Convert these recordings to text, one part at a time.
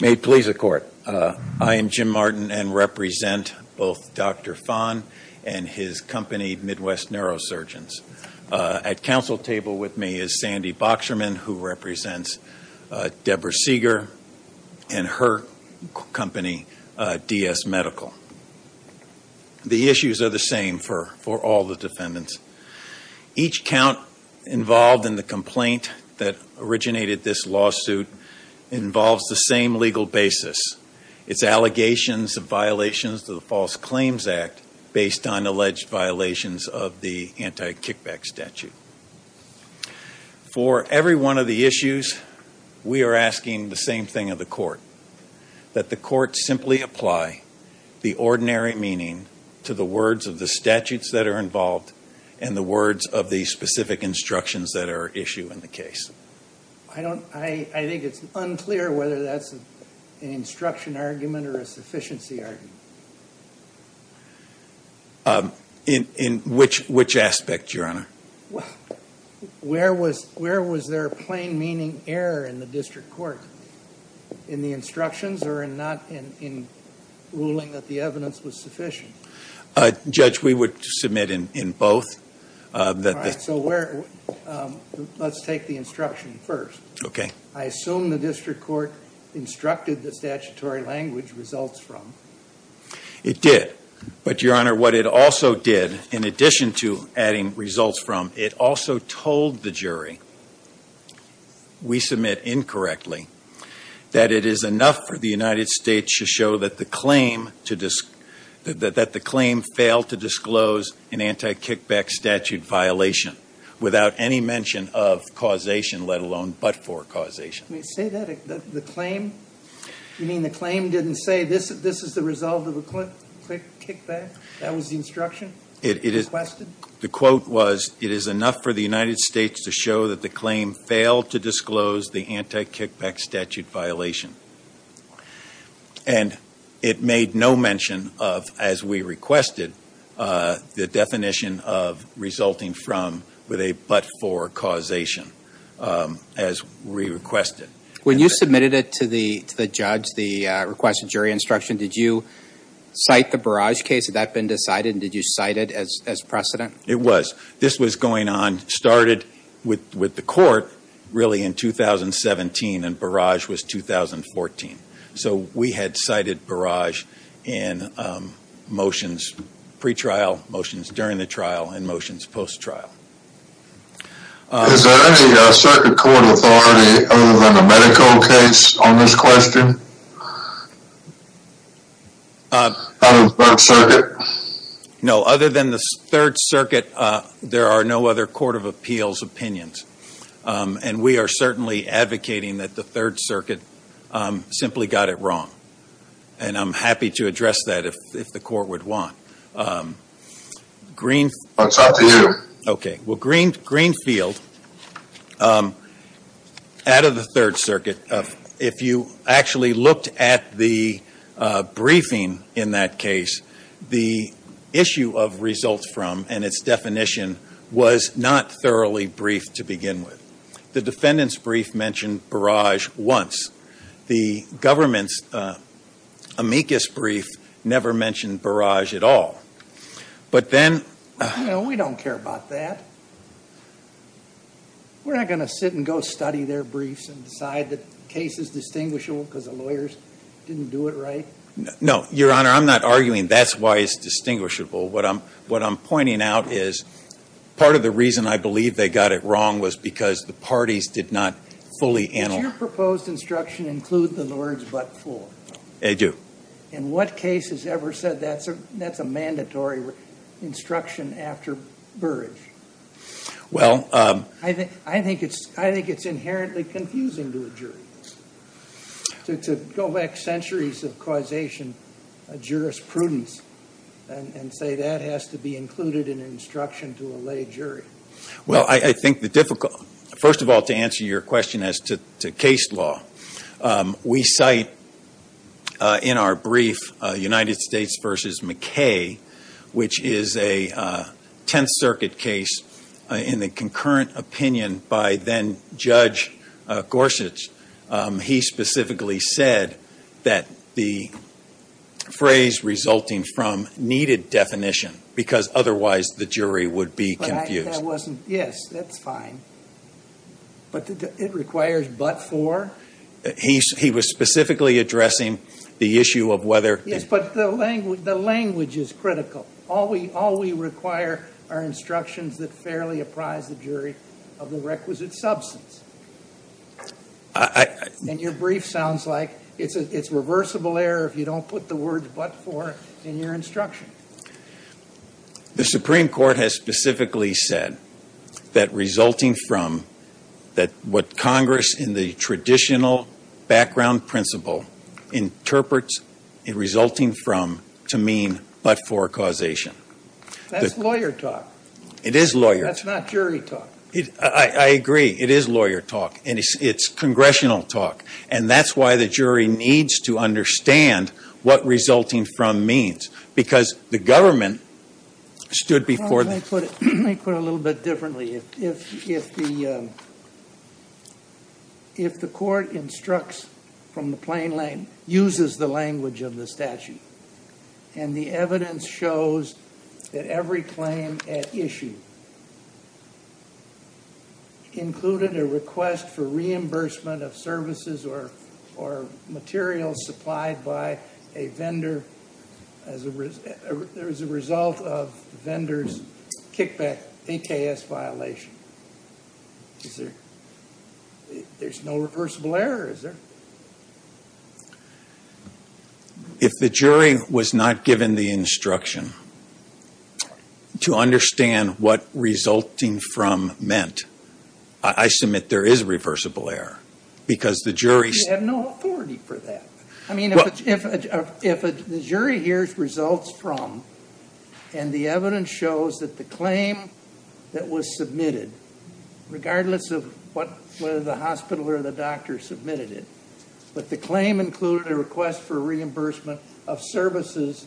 May it please the court. I am Jim Martin and represent both Dr. Fahn and his company, Midwest Neurosurgeons. At council table with me is Sandy Boxerman, who represents Deborah Seeger and her company, DS Medical. The issues are the same for all the defendants. Each count involved in the complaint that originated this lawsuit involves the same legal basis. It's allegations of violations of the False Claims Act based on alleged violations of the anti-kickback statute. For every one of the issues, we are asking the same thing of the court. That the court simply apply the ordinary meaning to the words of the statutes that are involved and the words of the specific instructions that are issued in the case. I think it's unclear whether that's an instruction argument or a sufficiency argument. In which aspect, your honor? Where was there a plain meaning error in the district court? In the instructions or in ruling that the evidence was sufficient? Judge, we would submit in both. All right, so let's take the instruction first. Okay. I assume the district court instructed the statutory language results from. It did. But your honor, what it also did, in addition to adding results from, it also told the jury. We submit incorrectly. That it is enough for the United States to show that the claim failed to disclose an anti-kickback statute violation. Without any mention of causation, let alone but for causation. Did it say that? The claim? You mean the claim didn't say this is the result of a kickback? That was the instruction requested? The quote was, it is enough for the United States to show that the claim failed to disclose the anti-kickback statute violation. And it made no mention of, as we requested, the definition of resulting from with a but for causation. When you submitted it to the judge, the request of jury instruction, did you cite the Barrage case? Had that been decided and did you cite it as precedent? It was. This was going on, started with the court, really in 2017 and Barrage was 2014. So we had cited Barrage in motions pre-trial, motions during the trial, and motions post-trial. Is there any circuit court authority other than the medical case on this question? Other than the 3rd Circuit? No, other than the 3rd Circuit, there are no other court of appeals opinions. And we are certainly advocating that the 3rd Circuit simply got it wrong. And I'm happy to address that if the court would want. It's up to you. Okay. Well, Greenfield, out of the 3rd Circuit, if you actually looked at the briefing in that case, the issue of results from and its definition was not thoroughly briefed to begin with. The defendant's brief mentioned Barrage once. The government's amicus brief never mentioned Barrage at all. Well, we don't care about that. We're not going to sit and go study their briefs and decide that the case is distinguishable because the lawyers didn't do it right. No, Your Honor, I'm not arguing that's why it's distinguishable. What I'm pointing out is part of the reason I believe they got it wrong was because the parties did not fully analyze it. Does your proposed instruction include the words, but for? They do. In what case has ever said that's a mandatory instruction after Barrage? Well. I think it's inherently confusing to a jury. To go back centuries of causation jurisprudence and say that has to be included in an instruction to a lay jury. Well, I think the difficult. First of all, to answer your question as to case law, we cite in our brief United States versus McKay, which is a Tenth Circuit case in the concurrent opinion by then Judge Gorsuch. He specifically said that the phrase resulting from needed definition because otherwise the jury would be confused. Yes, that's fine. But it requires but for. He was specifically addressing the issue of whether. Yes, but the language is critical. All we require are instructions that fairly apprise the jury of the requisite substance. And your brief sounds like it's reversible error if you don't put the words but for in your instruction. The Supreme Court has specifically said that resulting from that. What Congress in the traditional background principle interprets resulting from to mean but for causation. That's lawyer talk. It is lawyer. That's not jury talk. I agree. It is lawyer talk. And it's congressional talk. And that's why the jury needs to understand what resulting from means. Because the government stood before them. Let me put it a little bit differently. If the court instructs from the plain language, uses the language of the statute. And the evidence shows that every claim at issue. Included a request for reimbursement of services or materials supplied by a vendor. As a result of vendors kickback, a KS violation. There's no reversible error. Is there? If the jury was not given the instruction to understand what resulting from meant. I submit there is reversible error. Because the jury. We have no authority for that. I mean if the jury hears results from. And the evidence shows that the claim that was submitted. Regardless of whether the hospital or the doctor submitted it. But the claim included a request for reimbursement of services.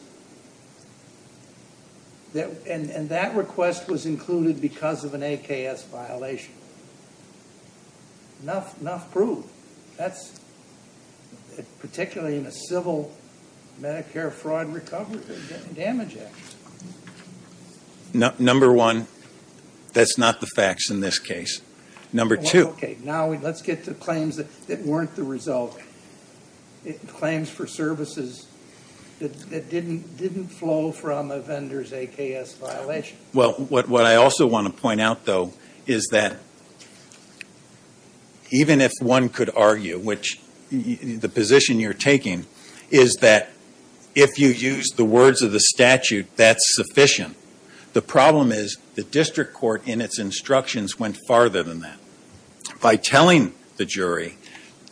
And that request was included because of an AKS violation. Enough proof. Particularly in a civil Medicare fraud recovery damage act. Number one. That's not the facts in this case. Number two. Now let's get to claims that weren't the result. Claims for services that didn't flow from a vendors AKS violation. Well what I also want to point out though. Is that. Even if one could argue. Which the position you're taking. Is that. If you use the words of the statute. That's sufficient. The problem is. The district court in its instructions went farther than that. By telling the jury.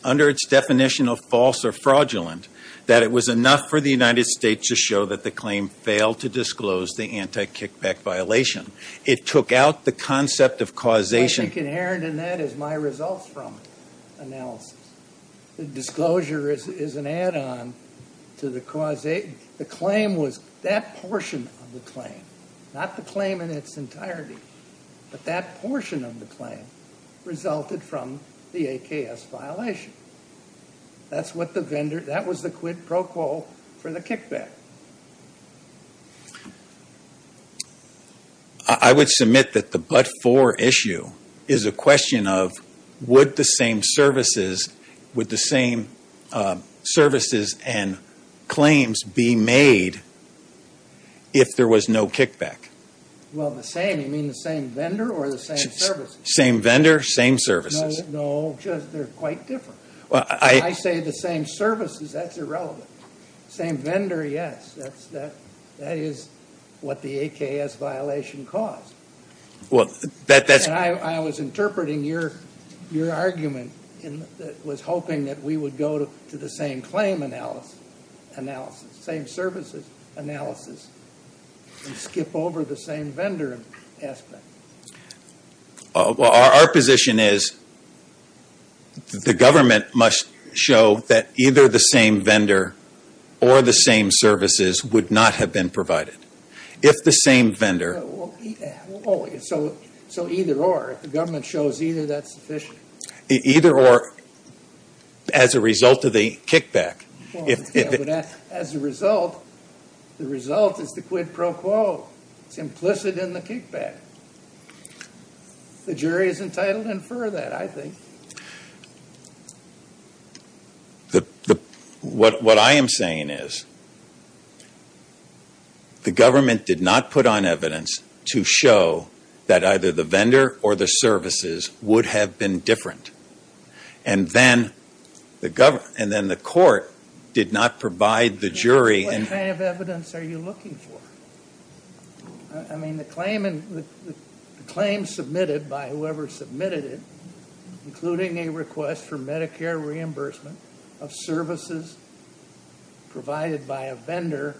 Under its definition of false or fraudulent. That it was enough for the United States to show that the claim failed to disclose the anti-kickback violation. It took out the concept of causation. Inherent in that is my results from. Analysis. The disclosure is an add on. To the cause. The claim was. That portion of the claim. Not the claim in its entirety. But that portion of the claim. Resulted from. The AKS violation. That's what the vendor. That was the quid pro quo. For the kickback. I would submit that the but for issue. Is a question of. Would the same services. With the same. Services and. Claims be made. If there was no kickback. Well, the same. You mean the same vendor or the same service. Same vendor. Same services. No, just they're quite different. Well, I say the same services. That's irrelevant. Same vendor. Yes, that's that. That is. What the AKS violation caused. Well, that that's. I was interpreting your. Your argument. In that was hoping that we would go to. To the same claim analysis. Analysis. Same services. Analysis. Skip over the same vendor. Aspect. Well, our position is. The government must show. That either the same vendor. Or the same services. Would not have been provided. If the same vendor. So. So either or. The government shows either that's sufficient. Either or. As a result of the kickback. If. As a result. The result is the quid pro quo. It's implicit in the kickback. The jury is entitled to infer that I think. The. What I am saying is. The government did not put on evidence. To show. That either the vendor. Or the services. Would have been different. And then. The government. And then the court. Did not provide the jury. What kind of evidence are you looking for? I mean the claim. Claim submitted by whoever submitted it. Including a request for Medicare reimbursement. Of services. Provided by a vendor.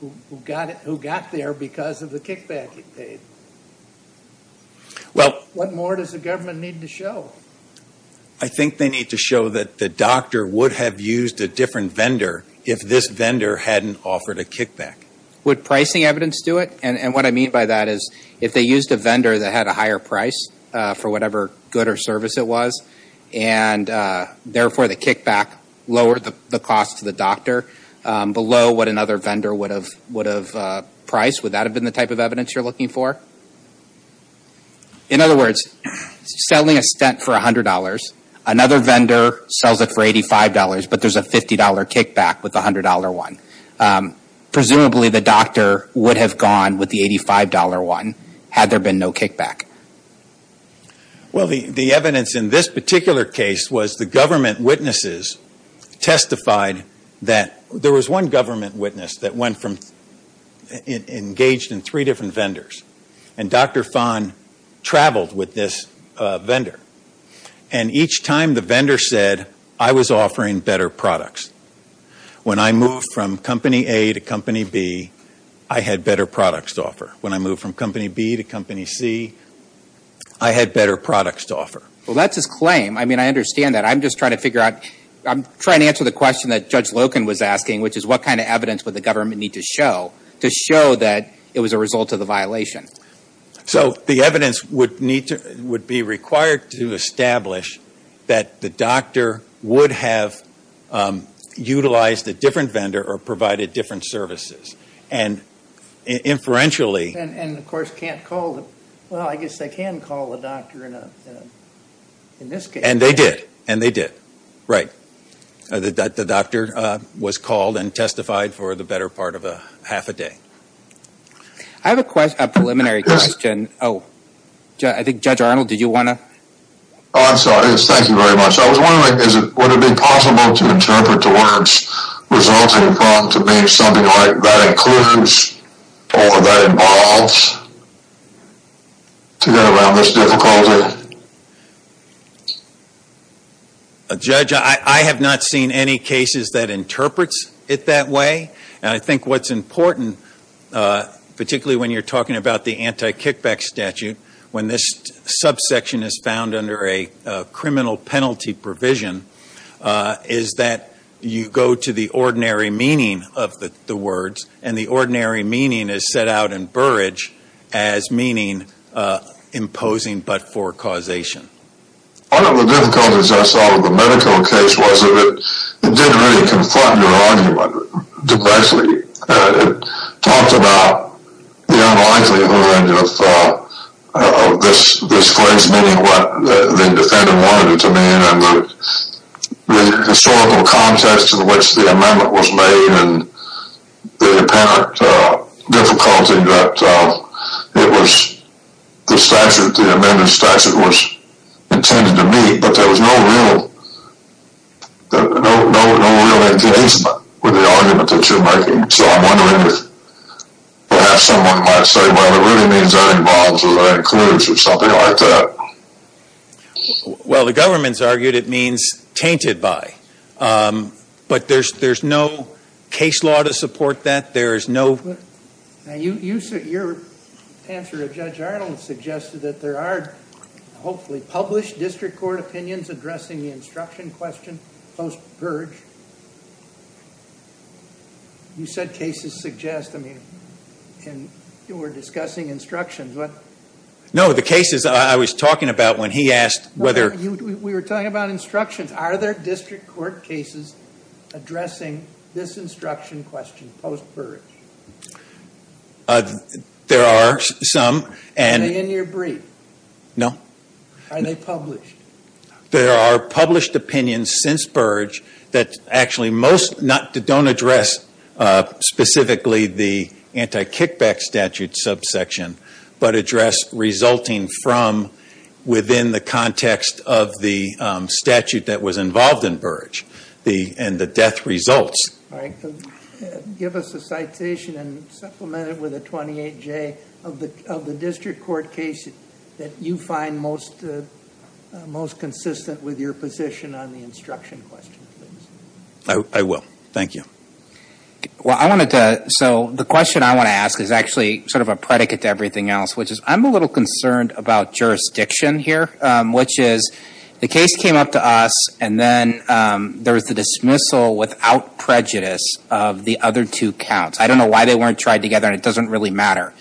Who got it. Who got there because of the kickback. Well. What more does the government need to show? I think they need to show that the doctor. Would have used a different vendor. If this vendor hadn't offered a kickback. Would pricing evidence do it? And what I mean by that is. If they used a vendor that had a higher price. For whatever good or service it was. And. Therefore the kickback. Lowered the cost to the doctor. Below what another vendor would have. Would have. Priced. Would that have been the type of evidence you're looking for? In other words. Selling a stent for $100. Another vendor. Sells it for $85. But there's a $50 kickback. With $100 one. Presumably the doctor. Would have gone with the $85 one. Had there been no kickback. Well. The evidence in this particular case. Was the government witnesses. Testified. That. There was one government witness. That went from. Engaged in three different vendors. And Dr. Fon. Traveled with this. Vendor. And each time the vendor said. I was offering better products. When I moved from company A to company B. I had better products to offer. When I moved from company B to company C. I had better products to offer. Well that's his claim. I mean I understand that. I'm just trying to figure out. I'm trying to answer the question that Judge Loken was asking. Which is what kind of evidence would the government need to show. To show that. It was a result of the violation. So. The evidence would need to. Would be required to establish. That the doctor. Would have. Utilized a different vendor. Or provided different services. And. Inferentially. And of course can't call. Well I guess they can call the doctor. In this case. And they did. And they did. Right. The doctor. Was called. And testified for the better part of a. Half a day. I have a question. A preliminary question. Oh. I think Judge Arnold. Did you want to. Oh I'm sorry. Thank you very much. I was wondering. Is it. Would it be possible. To interpret the words. Resulting from. To mean something like. That includes. Or that involves. To get around this difficulty. Judge. I have not seen any cases. That interprets. It that way. And I think what's important. Particularly when you're talking about. The anti-kickback statute. When this. Subsection is found under a. Criminal penalty provision. Is that. You go to the ordinary meaning. Of the words. And the ordinary meaning. Is set out in Burridge. As meaning. Imposing but for causation. One of the difficulties. I saw in the medical case. Was that it. Did really confront. Your argument. Depressly. It. Talked about. The unlikely. Of this. This phrase. Meaning what. The defendant. Wanted it to mean. And the. Historical context. In which the amendment. Was made. And. The apparent. Difficulty that. It was. The statute. The amended statute. Was. Intended to be. But there was no real. No real. Interest. With the argument that you're making. So I'm wondering. Perhaps someone might say. Well it really means. Any problems. Or that includes. Something like that. Well the government's. Argued it means. Tainted by. But there's. There's no. Case law. To support that. There is no. Now you. You're. Answer to Judge Arnold. Suggested that there are. Hopefully published. District court opinions. Addressing the instruction. Question. Post purge. You said. Cases suggest. I mean. And. You were discussing instructions. What. No the cases. I was talking about. When he asked. Whether. We were talking about instructions. Are there district court. Cases. Addressing. This instruction. Question. Post purge. There are. Some. And. In your brief. No. Are they published. There are published. Opinions. Since purge. That actually most. Not. Don't address. Specifically. The. Anti-kickback statute. Subsection. But address. Resulting from. Within the context. Of the. Statute that was involved. In purge. The. And the death. Results. Right. Give us a citation. And supplemented. With a 28. J. Of the. District court. Case. That you find. Most. Most consistent. With your position. On the instruction. Question. I will. Thank you. Well. I wanted to. So. The question I want to ask. Is actually. Sort of a predicate. To everything else. Which is. I'm a little concerned. About jurisdiction. Here. Which is. The case came up to us. And then. There was the dismissal. Without prejudice. Of the other two. Counts. I don't know why they weren't. Tried together. And it doesn't really matter.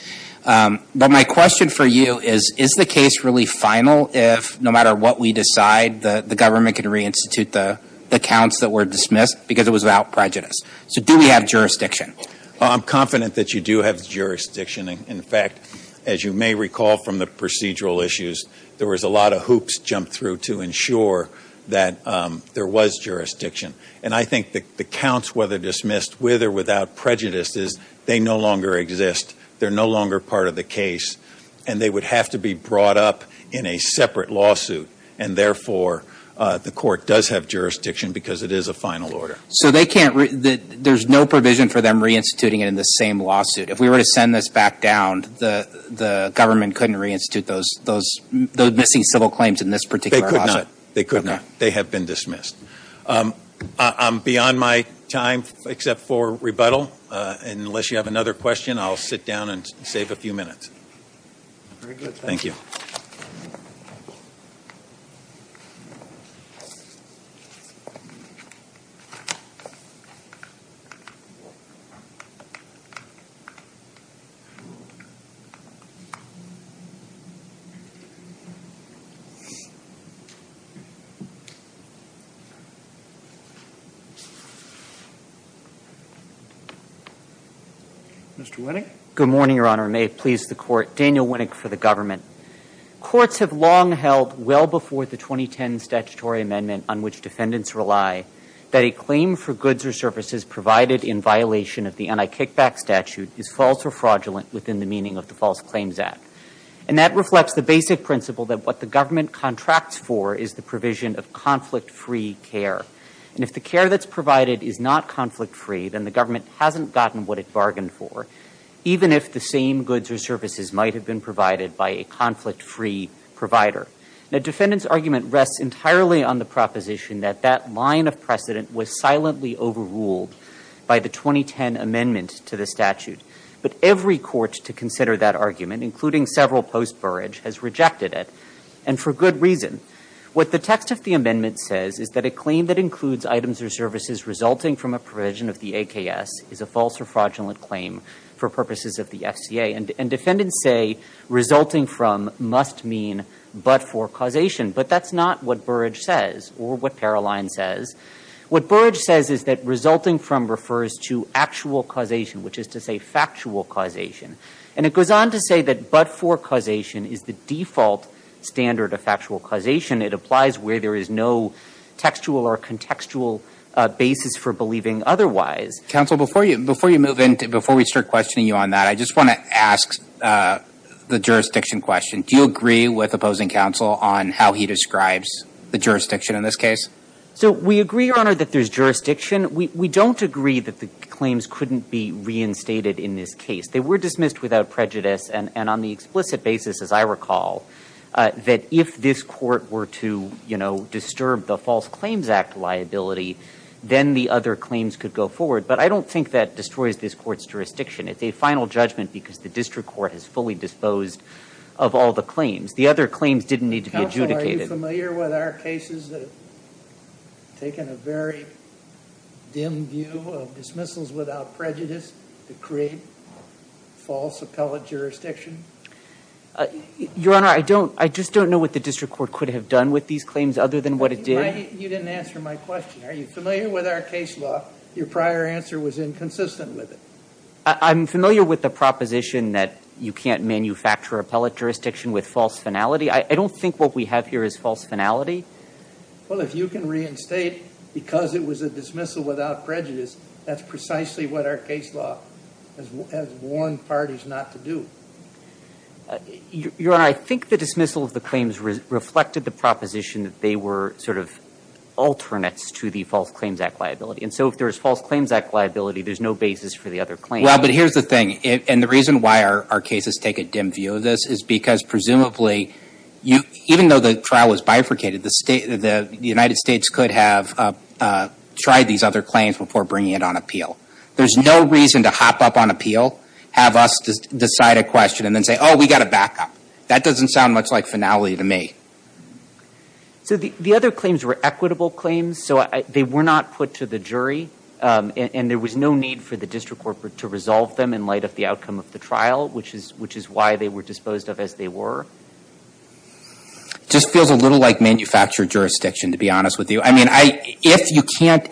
But. My question for you. Is. Is the case really final? If. No matter what we decide. The. The government can reinstitute the. The counts that were dismissed. Because it was without prejudice. So. Do we have jurisdiction? Well. I'm confident that you do have jurisdiction. And. In fact. As you may recall. From the procedural issues. There was a lot of hoops. Jumped through. To ensure. That. There was jurisdiction. And I think. The. The counts. Whether dismissed. With or without prejudice. Is. They no longer exist. They're no longer part of the case. And they would have to be brought up. In a separate lawsuit. And therefore. The court does have jurisdiction. Because it is a final order. So. They can't. There's no provision for them reinstituting it. In the same lawsuit. If we were to send this back down. The. The government couldn't reinstitute those. Those. In this particular. They could not. They could not. They have been dismissed. I'm. Beyond my. Time. Except for. For. For. For. Rebuttal. Unless you have another question. I'll sit down. And save a few minutes. Very good. Thank you. Mr. Winnick. Good morning, your honor. Daniel Winnick. For the government. Courts have long held well before the 2010 statutory amendment on which defendants rely. That a claim for goods or services provided in violation of the anti-kickback statute is false or fraudulent within the meaning of the False Claims Act. And that reflects the basic principle that what the government contracts for is the provision of conflict free care. And if the care that's provided is not conflict free. Then the government hasn't gotten what it bargained for. Even if the same goods or services might have been provided by a conflict free provider. The defendant's argument rests entirely on the proposition that that line of precedent was silently overruled by the 2010 amendment to the statute. But every court to consider that argument, including several post Burrage, has rejected it. And for good reason. What the text of the amendment says is that a claim that includes items or services resulting from a provision of the AKS is a false or fraudulent claim for purposes of the FCA. And defendants say resulting from must mean but for causation. But that's not what Burrage says. Or what Paroline says. What Burrage says is that resulting from refers to actual causation. Which is to say factual causation. And it goes on to say that but for causation is the default standard of factual causation. It applies where there is no textual or contextual basis for believing otherwise. Counsel before we start questioning you on that, I just want to ask the jurisdiction question. Do you agree with opposing counsel on how he describes the jurisdiction in this case? So we agree, your honor, that there's jurisdiction. We don't agree that the claims couldn't be reinstated in this case. They were dismissed without prejudice. And on the explicit basis, as I recall, that if this court were to, you know, disturb the False Claims Act liability, then the other claims could go forward. But I don't think that destroys this court's jurisdiction. It's a final judgment because the district court has fully disposed of all the claims. The other claims didn't need to be adjudicated. Counsel, are you familiar with our cases that have taken a very dim view of dismissals without prejudice to create false appellate jurisdiction? Your honor, I don't. I just don't know what the district court could have done with these claims other than what it did. You didn't answer my question. Are you familiar with our case law? Your prior answer was inconsistent with it. I'm familiar with the proposition that you can't manufacture appellate jurisdiction with false finality. I don't think what we have here is false finality. Well, if you can reinstate because it was a dismissal without prejudice, that's precisely what our case law has warned parties not to do. Your honor, I think the dismissal of the claims reflected the proposition that they were sort of alternates to the False Claims Act liability. And so if there's False Claims Act liability, there's no basis for the other claims. Well, but here's the thing. And the reason why our cases take a dim view of this is because presumably, even though the trial was bifurcated, the United States could have tried these other claims before bringing it on appeal. There's no reason to hop up on appeal, have us decide a question, and then say, oh, we got to back up. That doesn't sound much like finality to me. So the other claims were equitable claims, so they were not put to the jury, and there was no need for the district court to resolve them in light of the outcome of the trial, which is why they were disposed of as they were? Just feels a little like manufactured jurisdiction, to be honest with you. I mean, if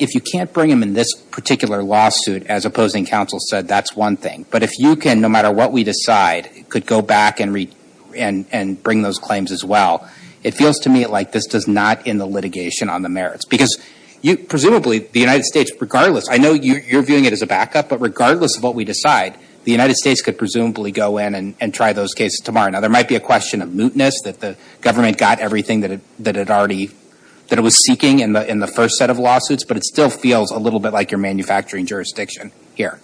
you can't bring them in this particular lawsuit, as opposing counsel said, that's one thing. But if you can, no matter what we decide, could go back and bring those claims as well, it feels to me like this does not end the litigation on the merits. Because presumably, the United States, regardless, I know you're viewing it as a backup, but regardless of what we decide, the United States could presumably go in and try those cases tomorrow. Now, there might be a question of mootness, that the government got everything that it already, that it was seeking in the first set of lawsuits, but it still feels a little bit like you're manufacturing jurisdiction here.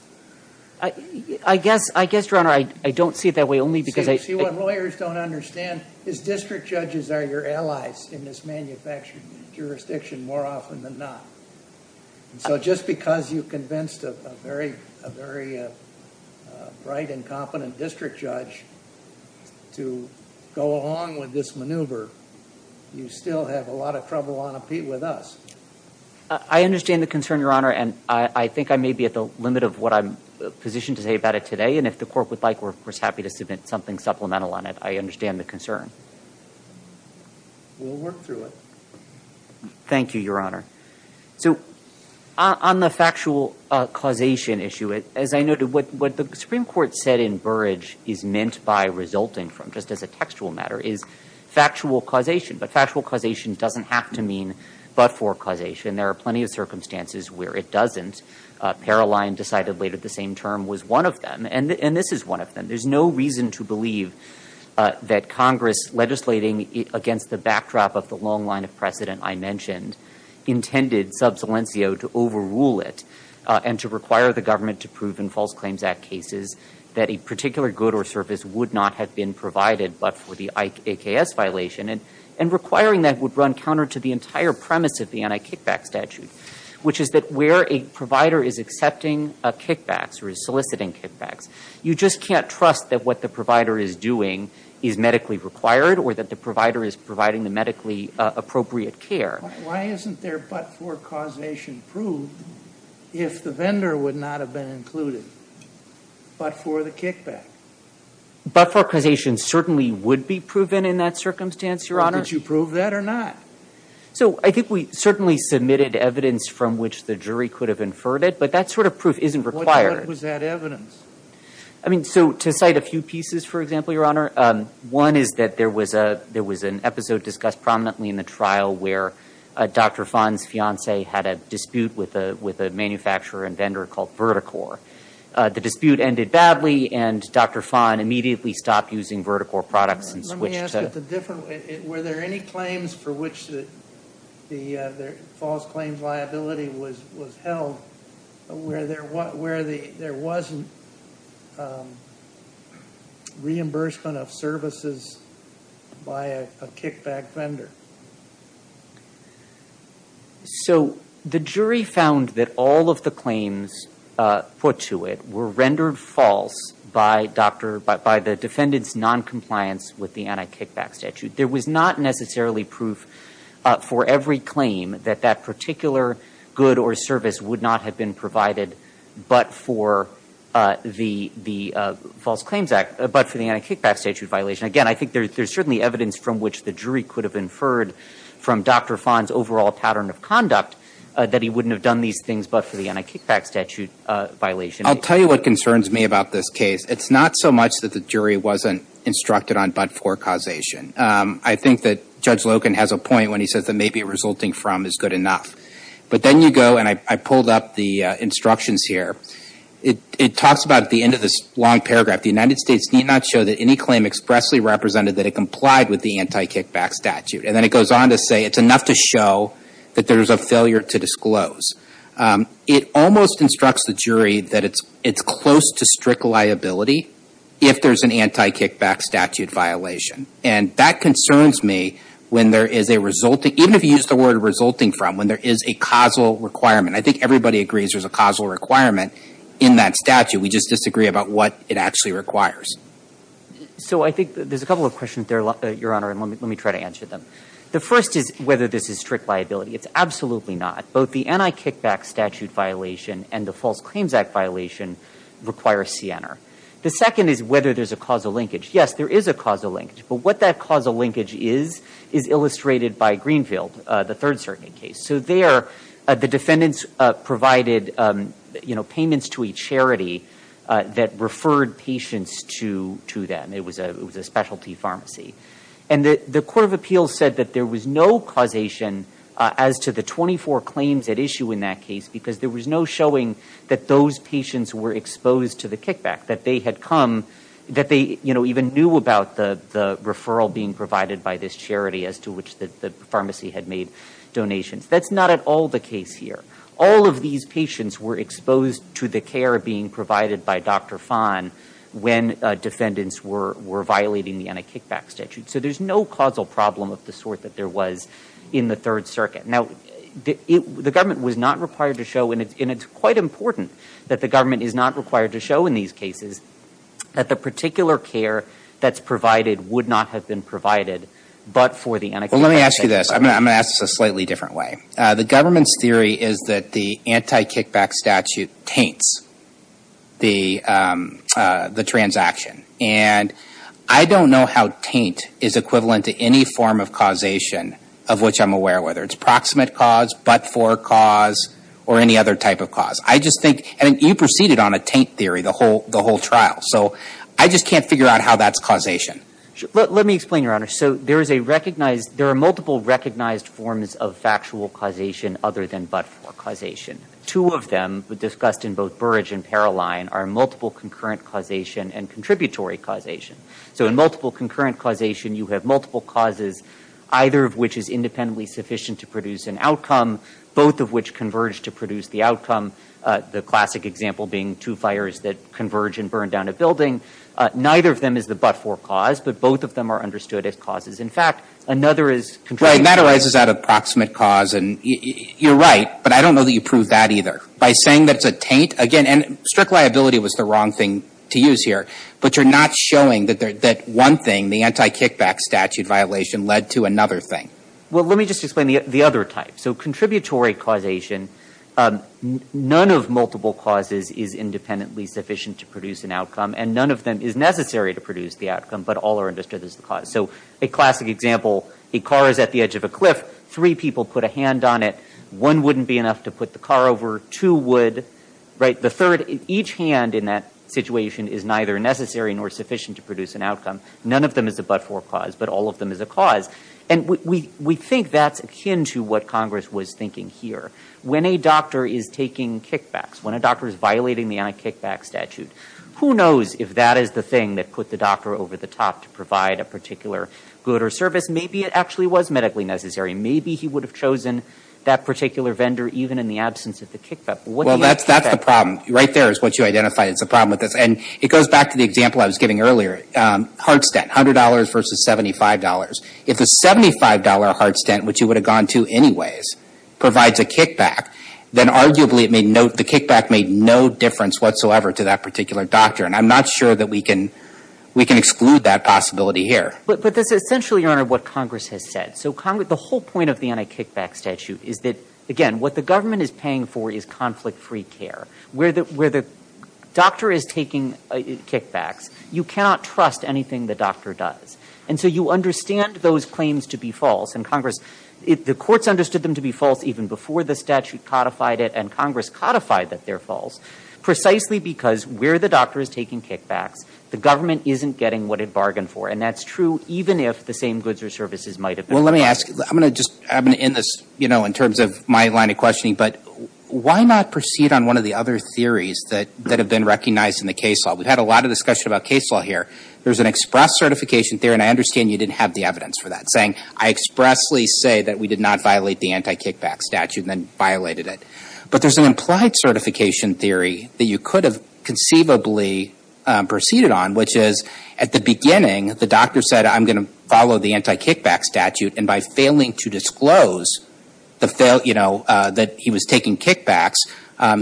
I guess, Your Honor, I don't see it that way, only because I... See what lawyers don't understand is district judges are your allies in this manufactured jurisdiction more often than not. So just because you convinced a very bright and competent district judge to go along with this maneuver, you still have a lot of trouble on a pete with us. I understand the concern, Your Honor, and I think I may be at the limit of what I'm positioned to say about it today, and if the court would like, we're happy to submit something supplemental on it. I understand the concern. We'll work through it. Thank you, Your Honor. So on the factual causation issue, as I noted, what the Supreme Court said in Burrage is meant by resulting from, just as a textual matter, is factual causation, but factual causation doesn't have to mean but-for causation. There are plenty of circumstances where it doesn't. Paroline decided later the same term was one of them, and this is one of them. There's no reason to believe that Congress legislating against the backdrop of the long line of precedent I mentioned intended sub saliencio to overrule it and to require the service would not have been provided but for the AKS violation, and requiring that would run counter to the entire premise of the anti-kickback statute, which is that where a provider is accepting kickbacks or is soliciting kickbacks, you just can't trust that what the provider is doing is medically required or that the provider is providing the medically appropriate care. Why isn't there but-for causation proved if the vendor would not have been included but for the kickback? But-for causation certainly would be proven in that circumstance, Your Honor. Could you prove that or not? So I think we certainly submitted evidence from which the jury could have inferred it, but that sort of proof isn't required. What was that evidence? I mean, so to cite a few pieces, for example, Your Honor, one is that there was an episode discussed prominently in the trial where Dr. Fon's fiance had a dispute with a manufacturer and vendor called VertiCor. The dispute ended badly, and Dr. Fon immediately stopped using VertiCor products and switched to- Let me ask it the different way. Were there any claims for which the false claims liability was held where there wasn't reimbursement of services by a kickback vendor? So the jury found that all of the claims put to it were rendered false by the defendant's noncompliance with the anti-kickback statute. There was not necessarily proof for every claim that that particular good or service would not have been provided but for the anti-kickback statute violation. Again, I think there's certainly evidence from which the jury could have inferred that from Dr. Fon's overall pattern of conduct that he wouldn't have done these things but for the anti-kickback statute violation. I'll tell you what concerns me about this case. It's not so much that the jury wasn't instructed on but-for causation. I think that Judge Logan has a point when he says that maybe resulting from is good enough. But then you go, and I pulled up the instructions here. It talks about at the end of this long paragraph, the United States need not show that any claim expressly represented that it complied with the anti-kickback statute. And then it goes on to say it's enough to show that there's a failure to disclose. It almost instructs the jury that it's close to strict liability if there's an anti-kickback statute violation. And that concerns me when there is a resulting, even if you use the word resulting from, when there is a causal requirement. I think everybody agrees there's a causal requirement in that statute. We just disagree about what it actually requires. So I think there's a couple of questions there, Your Honor, and let me try to answer them. The first is whether this is strict liability. It's absolutely not. Both the anti-kickback statute violation and the False Claims Act violation require CNR. The second is whether there's a causal linkage. Yes, there is a causal linkage. But what that causal linkage is, is illustrated by Greenfield, the Third Circuit case. So there, the defendants provided payments to a charity that referred patients to them. It was a specialty pharmacy. And the Court of Appeals said that there was no causation as to the 24 claims at issue in that case because there was no showing that those patients were exposed to the kickback, that they had come, that they even knew about the referral being provided by this charity as to which the pharmacy had made donations. That's not at all the case here. All of these patients were exposed to the care being provided by Dr. Fahn when defendants were violating the anti-kickback statute. So there's no causal problem of the sort that there was in the Third Circuit. Now, the government was not required to show, and it's quite important that the government is not required to show in these cases, that the particular care that's provided would not have been provided but for the anti-kickback statute. Well, let me ask you this. I'm going to ask this a slightly different way. The government's theory is that the anti-kickback statute taints the transaction. And I don't know how taint is equivalent to any form of causation of which I'm aware, whether it's proximate cause, but-for cause, or any other type of cause. I just think, and you proceeded on a taint theory the whole trial. So I just can't figure out how that's causation. Let me explain, Your Honor. So there is a recognized, there are multiple recognized forms of factual causation other than but-for causation. Two of them were discussed in both Burrage and Paroline are multiple concurrent causation and contributory causation. So in multiple concurrent causation, you have multiple causes, either of which is independently sufficient to produce an outcome, both of which converge to produce the outcome. The classic example being two fires that converge and burn down a building. Neither of them is the but-for cause, but both of them are understood as causes. In fact, another is contributing- Right, and that arises out of proximate cause. And you're right, but I don't know that you proved that either. By saying that it's a taint, again, and strict liability was the wrong thing to use here. But you're not showing that one thing, the anti-kickback statute violation, led to another thing. Well, let me just explain the other type. So contributory causation, none of multiple causes is independently sufficient to produce an outcome, and none of them is necessary to produce the outcome, but all are understood as the cause. So a classic example, a car is at the edge of a cliff. Three people put a hand on it. One wouldn't be enough to put the car over. Two would. Right? The third, each hand in that situation is neither necessary nor sufficient to produce an outcome. None of them is the but-for cause, but all of them is a cause. And we think that's akin to what Congress was thinking here. When a doctor is taking kickbacks, when a doctor is violating the anti-kickback statute, who knows if that is the thing that put the doctor over the top to provide a particular good or service. Maybe it actually was medically necessary. Maybe he would have chosen that particular vendor even in the absence of the kickback. Well, that's the problem. Right there is what you identified as the problem with this. And it goes back to the example I was giving earlier. Heart stent, $100 versus $75. If a $75 heart stent, which you would have gone to anyways, provides a kickback, then I'm not sure that we can exclude that possibility here. But that's essentially, Your Honor, what Congress has said. So the whole point of the anti-kickback statute is that, again, what the government is paying for is conflict-free care. Where the doctor is taking kickbacks, you cannot trust anything the doctor does. And so you understand those claims to be false. And Congress, the courts understood them to be false even before the statute codified it. And Congress codified that they're false precisely because where the doctor is taking kickbacks, the government isn't getting what it bargained for. And that's true even if the same goods or services might have been. Well, let me ask. I'm going to just end this in terms of my line of questioning. But why not proceed on one of the other theories that have been recognized in the case law? We've had a lot of discussion about case law here. There's an express certification theory, and I understand you didn't have the evidence for that, saying, I expressly say that we did not violate the anti-kickback statute and then violated it. But there's an implied certification theory that you could have conceivably proceeded on, which is, at the beginning, the doctor said, I'm going to follow the anti-kickback statute. And by failing to disclose that he was taking kickbacks,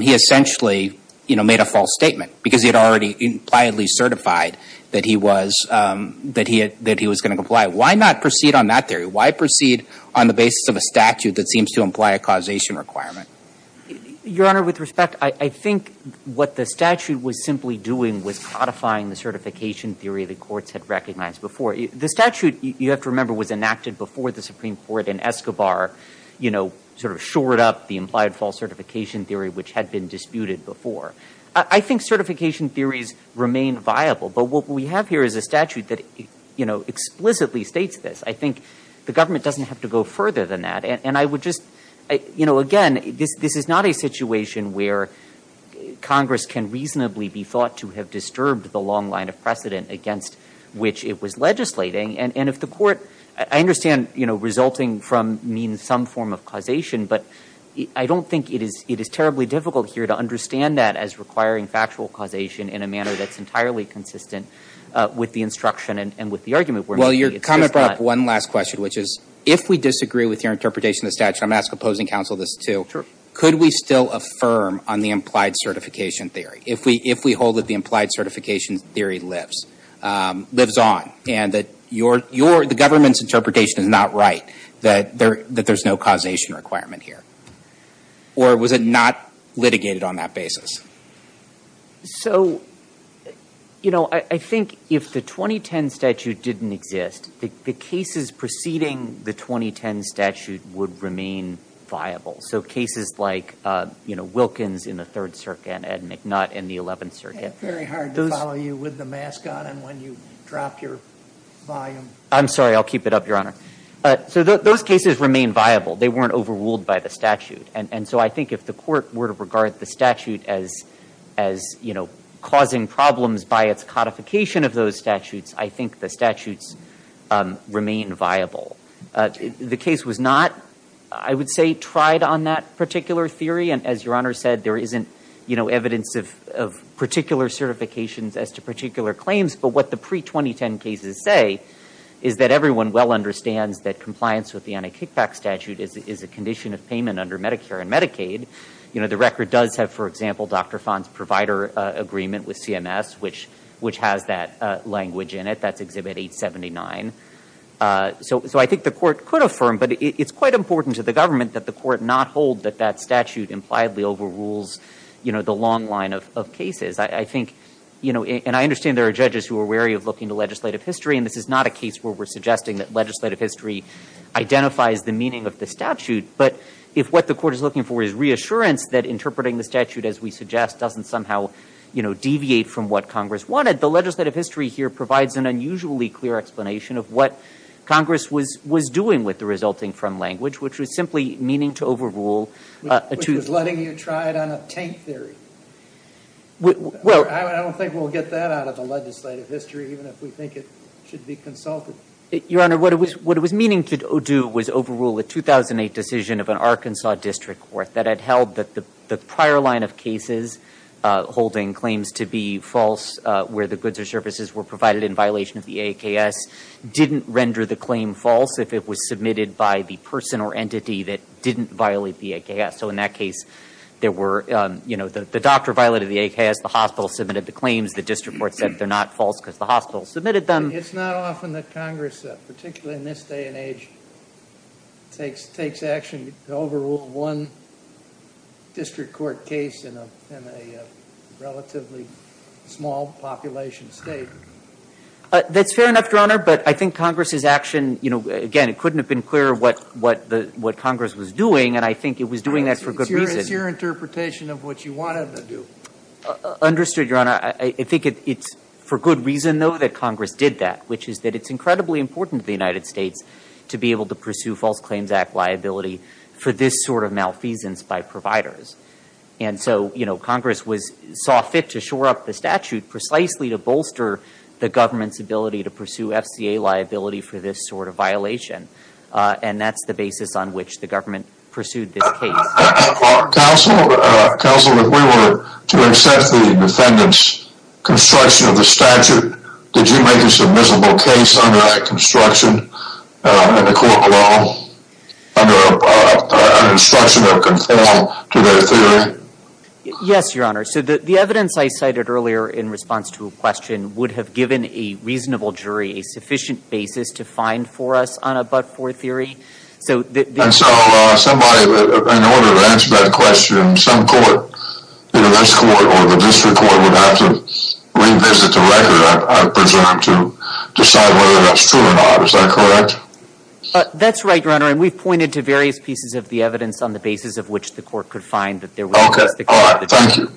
he essentially made a false statement because he had already impliedly certified that he was going to comply. Why not proceed on that theory? Why proceed on the basis of a statute that seems to imply a causation requirement? Your Honor, with respect, I think what the statute was simply doing was codifying the certification theory the courts had recognized before. The statute, you have to remember, was enacted before the Supreme Court. And Escobar shored up the implied false certification theory, which had been disputed before. I think certification theories remain viable. But what we have here is a statute that explicitly states this. I think the government doesn't have to go further than that. And I would just, again, this is not a situation where Congress can reasonably be thought to have disturbed the long line of precedent against which it was legislating. And if the court, I understand resulting from means some form of causation. But I don't think it is terribly difficult here to understand that as requiring factual causation in a manner that's entirely consistent with the instruction and with the argument where maybe it's just not. I have one last question, which is, if we disagree with your interpretation of the statute, I'm going to ask opposing counsel this too, could we still affirm on the implied certification theory if we hold that the implied certification theory lives on and that the government's interpretation is not right, that there's no causation requirement here? Or was it not litigated on that basis? So, you know, I think if the 2010 statute didn't exist, the cases preceding the 2010 statute would remain viable. So cases like, you know, Wilkins in the Third Circuit and Ed McNutt in the Eleventh Circuit. It's very hard to follow you with the mask on and when you drop your volume. I'm sorry, I'll keep it up, Your Honor. So those cases remain viable. They weren't overruled by the statute. And so I think if the court were to regard the statute as, you know, causing problems by its codification of those statutes, I think the statutes remain viable. The case was not, I would say, tried on that particular theory. And as Your Honor said, there isn't, you know, evidence of particular certifications as to particular claims. But what the pre-2010 cases say is that everyone well understands that compliance with the Medicaid, you know, the record does have, for example, Dr. Fon's provider agreement with CMS, which has that language in it. That's Exhibit 879. So I think the court could affirm, but it's quite important to the government that the court not hold that that statute impliedly overrules, you know, the long line of cases. I think, you know, and I understand there are judges who are wary of looking to legislative history. And this is not a case where we're suggesting that legislative history identifies the meaning of the statute. But if what the court is looking for is reassurance that interpreting the statute, as we suggest, doesn't somehow, you know, deviate from what Congress wanted, the legislative history here provides an unusually clear explanation of what Congress was doing with the resulting from language, which was simply meaning to overrule. It was letting you try it on a tank theory. I don't think we'll get that out of the legislative history, even if we think it should be consulted. Your Honor, what it was meaning to do was overrule a 2008 decision of an Arkansas district court that had held that the prior line of cases holding claims to be false, where the goods or services were provided in violation of the AKS, didn't render the claim false if it was submitted by the person or entity that didn't violate the AKS. So in that case, there were, you know, the doctor violated the AKS, the hospital submitted the claims, the district court said they're not false because the hospital submitted them. It's not often that Congress, particularly in this day and age, takes action to overrule one district court case in a relatively small population state. That's fair enough, Your Honor. But I think Congress's action, you know, again, it couldn't have been clearer what Congress was doing. And I think it was doing that for good reason. It's your interpretation of what you wanted to do. Understood, Your Honor. I think it's for good reason, though, that Congress did that, which is that it's incredibly important to the United States to be able to pursue False Claims Act liability for this sort of malfeasance by providers. And so, you know, Congress was saw fit to shore up the statute precisely to bolster the government's ability to pursue FCA liability for this sort of violation. And that's the basis on which the government pursued this case. Counsel, if we were to accept the defendant's construction of the statute, did you make a submissible case under that construction in a court of law under an instruction of conform to their theory? Yes, Your Honor. So the evidence I cited earlier in response to a question would have given a reasonable jury a sufficient basis to find for us on a but-for theory. And so somebody, in order to answer that question, some court, either this court or the district court, would have to revisit the record, I presume, to decide whether that's true or not. Is that correct? That's right, Your Honor. And we've pointed to various pieces of the evidence on the basis of which the court could find that there was a mistake. Okay. All right. Thank you.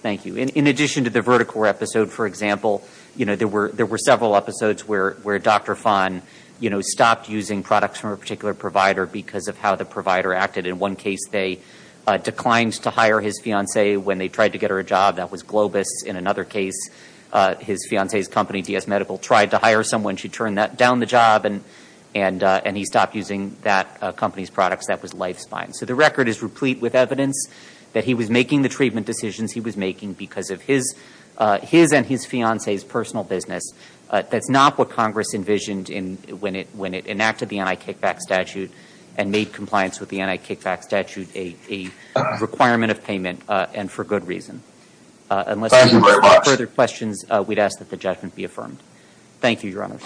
Thank you. In addition to the VertiCorps episode, for example, you know, there were several episodes where Dr. Fahn, you know, stopped using products from a particular provider because of how the provider acted. In one case, they declined to hire his fiancée when they tried to get her a job. That was Globus. In another case, his fiancée's company, DS Medical, tried to hire someone. She turned that down the job, and he stopped using that company's products. That was Lifespine. So the record is replete with evidence that he was making the treatment decisions he was Congress envisioned when it enacted the anti-kickback statute and made compliance with the anti-kickback statute a requirement of payment, and for good reason. Unless you have further questions, we'd ask that the judgment be affirmed. Thank you, Your Honor.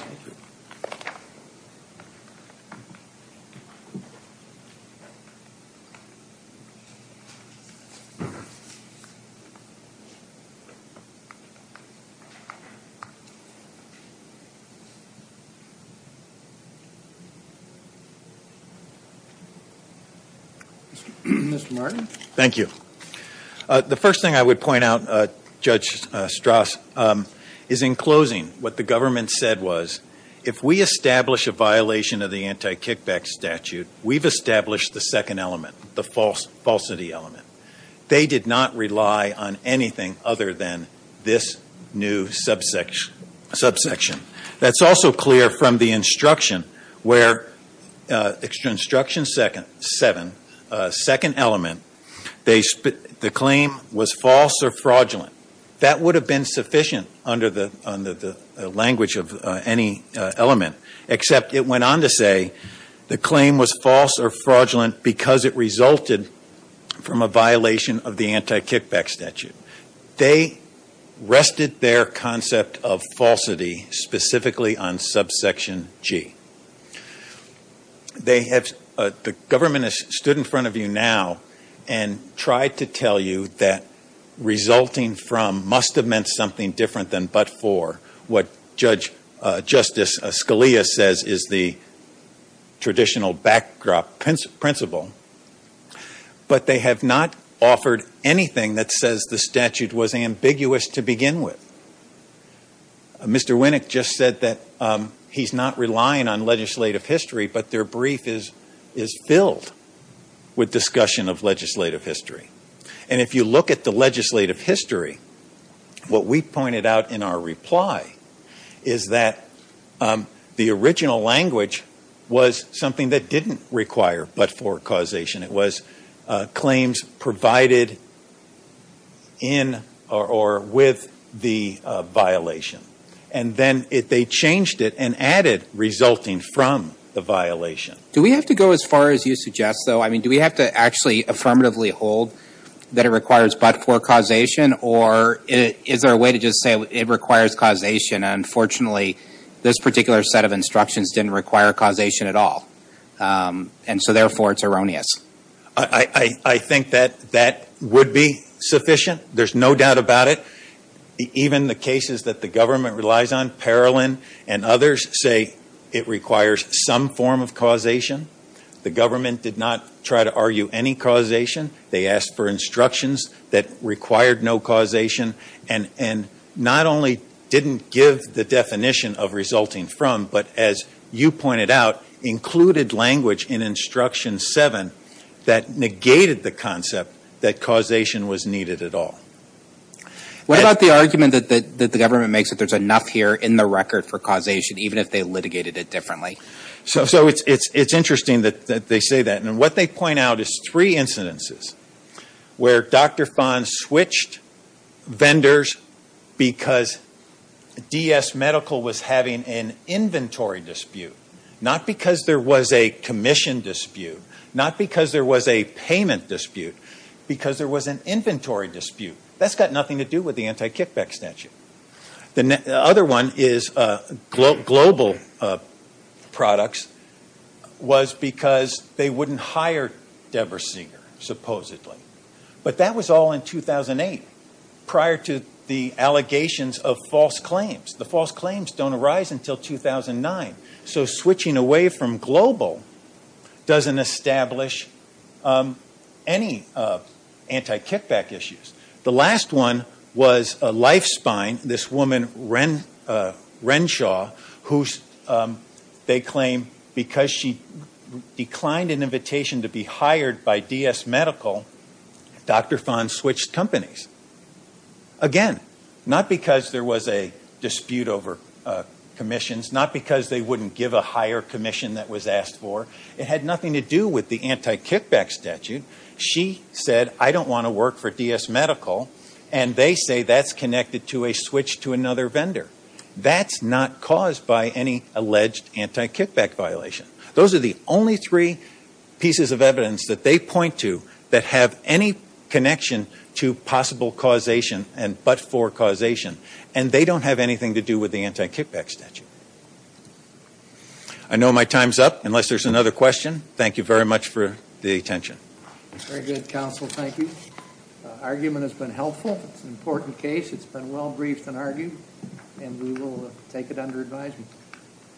Mr. Martin. Thank you. The first thing I would point out, Judge Strauss, is in closing, what the government said was, if we establish a violation of the anti-kickback statute, we've established the second element, the falsity element. They did not rely on anything other than this new subsection. That's also clear from the instruction, where instruction seven, second element, the claim was false or fraudulent. That would have been sufficient under the language of any element, except it went on to say the claim was false or fraudulent because it resulted from a violation of the anti-kickback statute. They rested their concept of falsity specifically on subsection G. The government has stood in front of you now and tried to tell you that resulting from must have meant something different than but for. What Justice Scalia says is the traditional backdrop principle. But they have not offered anything that says the statute was ambiguous to begin with. Mr. Winnick just said that he's not relying on legislative history, but their brief is filled with discussion of legislative history. And if you look at the legislative history, what we pointed out in our reply is that the it was claims provided in or with the violation. And then they changed it and added resulting from the violation. Do we have to go as far as you suggest, though? I mean, do we have to actually affirmatively hold that it requires but for causation? Or is there a way to just say it requires causation? Unfortunately, this particular set of instructions didn't require causation at all. And so therefore, it's erroneous. I think that that would be sufficient. There's no doubt about it. Even the cases that the government relies on, Parolin and others say it requires some form of causation. The government did not try to argue any causation. They asked for instructions that required no causation and not only didn't give the language in instruction seven that negated the concept that causation was needed at all. What about the argument that the government makes that there's enough here in the record for causation, even if they litigated it differently? So it's interesting that they say that. And what they point out is three incidences where Dr. Fahn switched vendors because DS Medical was having an inventory dispute. Not because there was a commission dispute. Not because there was a payment dispute. Because there was an inventory dispute. That's got nothing to do with the anti-kickback statute. The other one is global products was because they wouldn't hire Debra Seeger, supposedly. But that was all in 2008, prior to the allegations of false claims. The false claims don't arise until 2009. So switching away from global doesn't establish any anti-kickback issues. The last one was a life spine, this woman, Renshaw, who they claim because she declined an invitation to be hired by DS Medical, Dr. Fahn switched companies. Again, not because there was a dispute over commissions. Not because they wouldn't give a higher commission that was asked for. It had nothing to do with the anti-kickback statute. She said, I don't want to work for DS Medical. And they say that's connected to a switch to another vendor. That's not caused by any alleged anti-kickback violation. Those are the only three pieces of evidence that they point to that have any connection to possible causation and but for causation. And they don't have anything to do with the anti-kickback statute. I know my time's up, unless there's another question. Thank you very much for the attention. Very good, counsel. Thank you. Argument has been helpful. It's an important case. It's been well briefed and argued. And we will take it under advisement.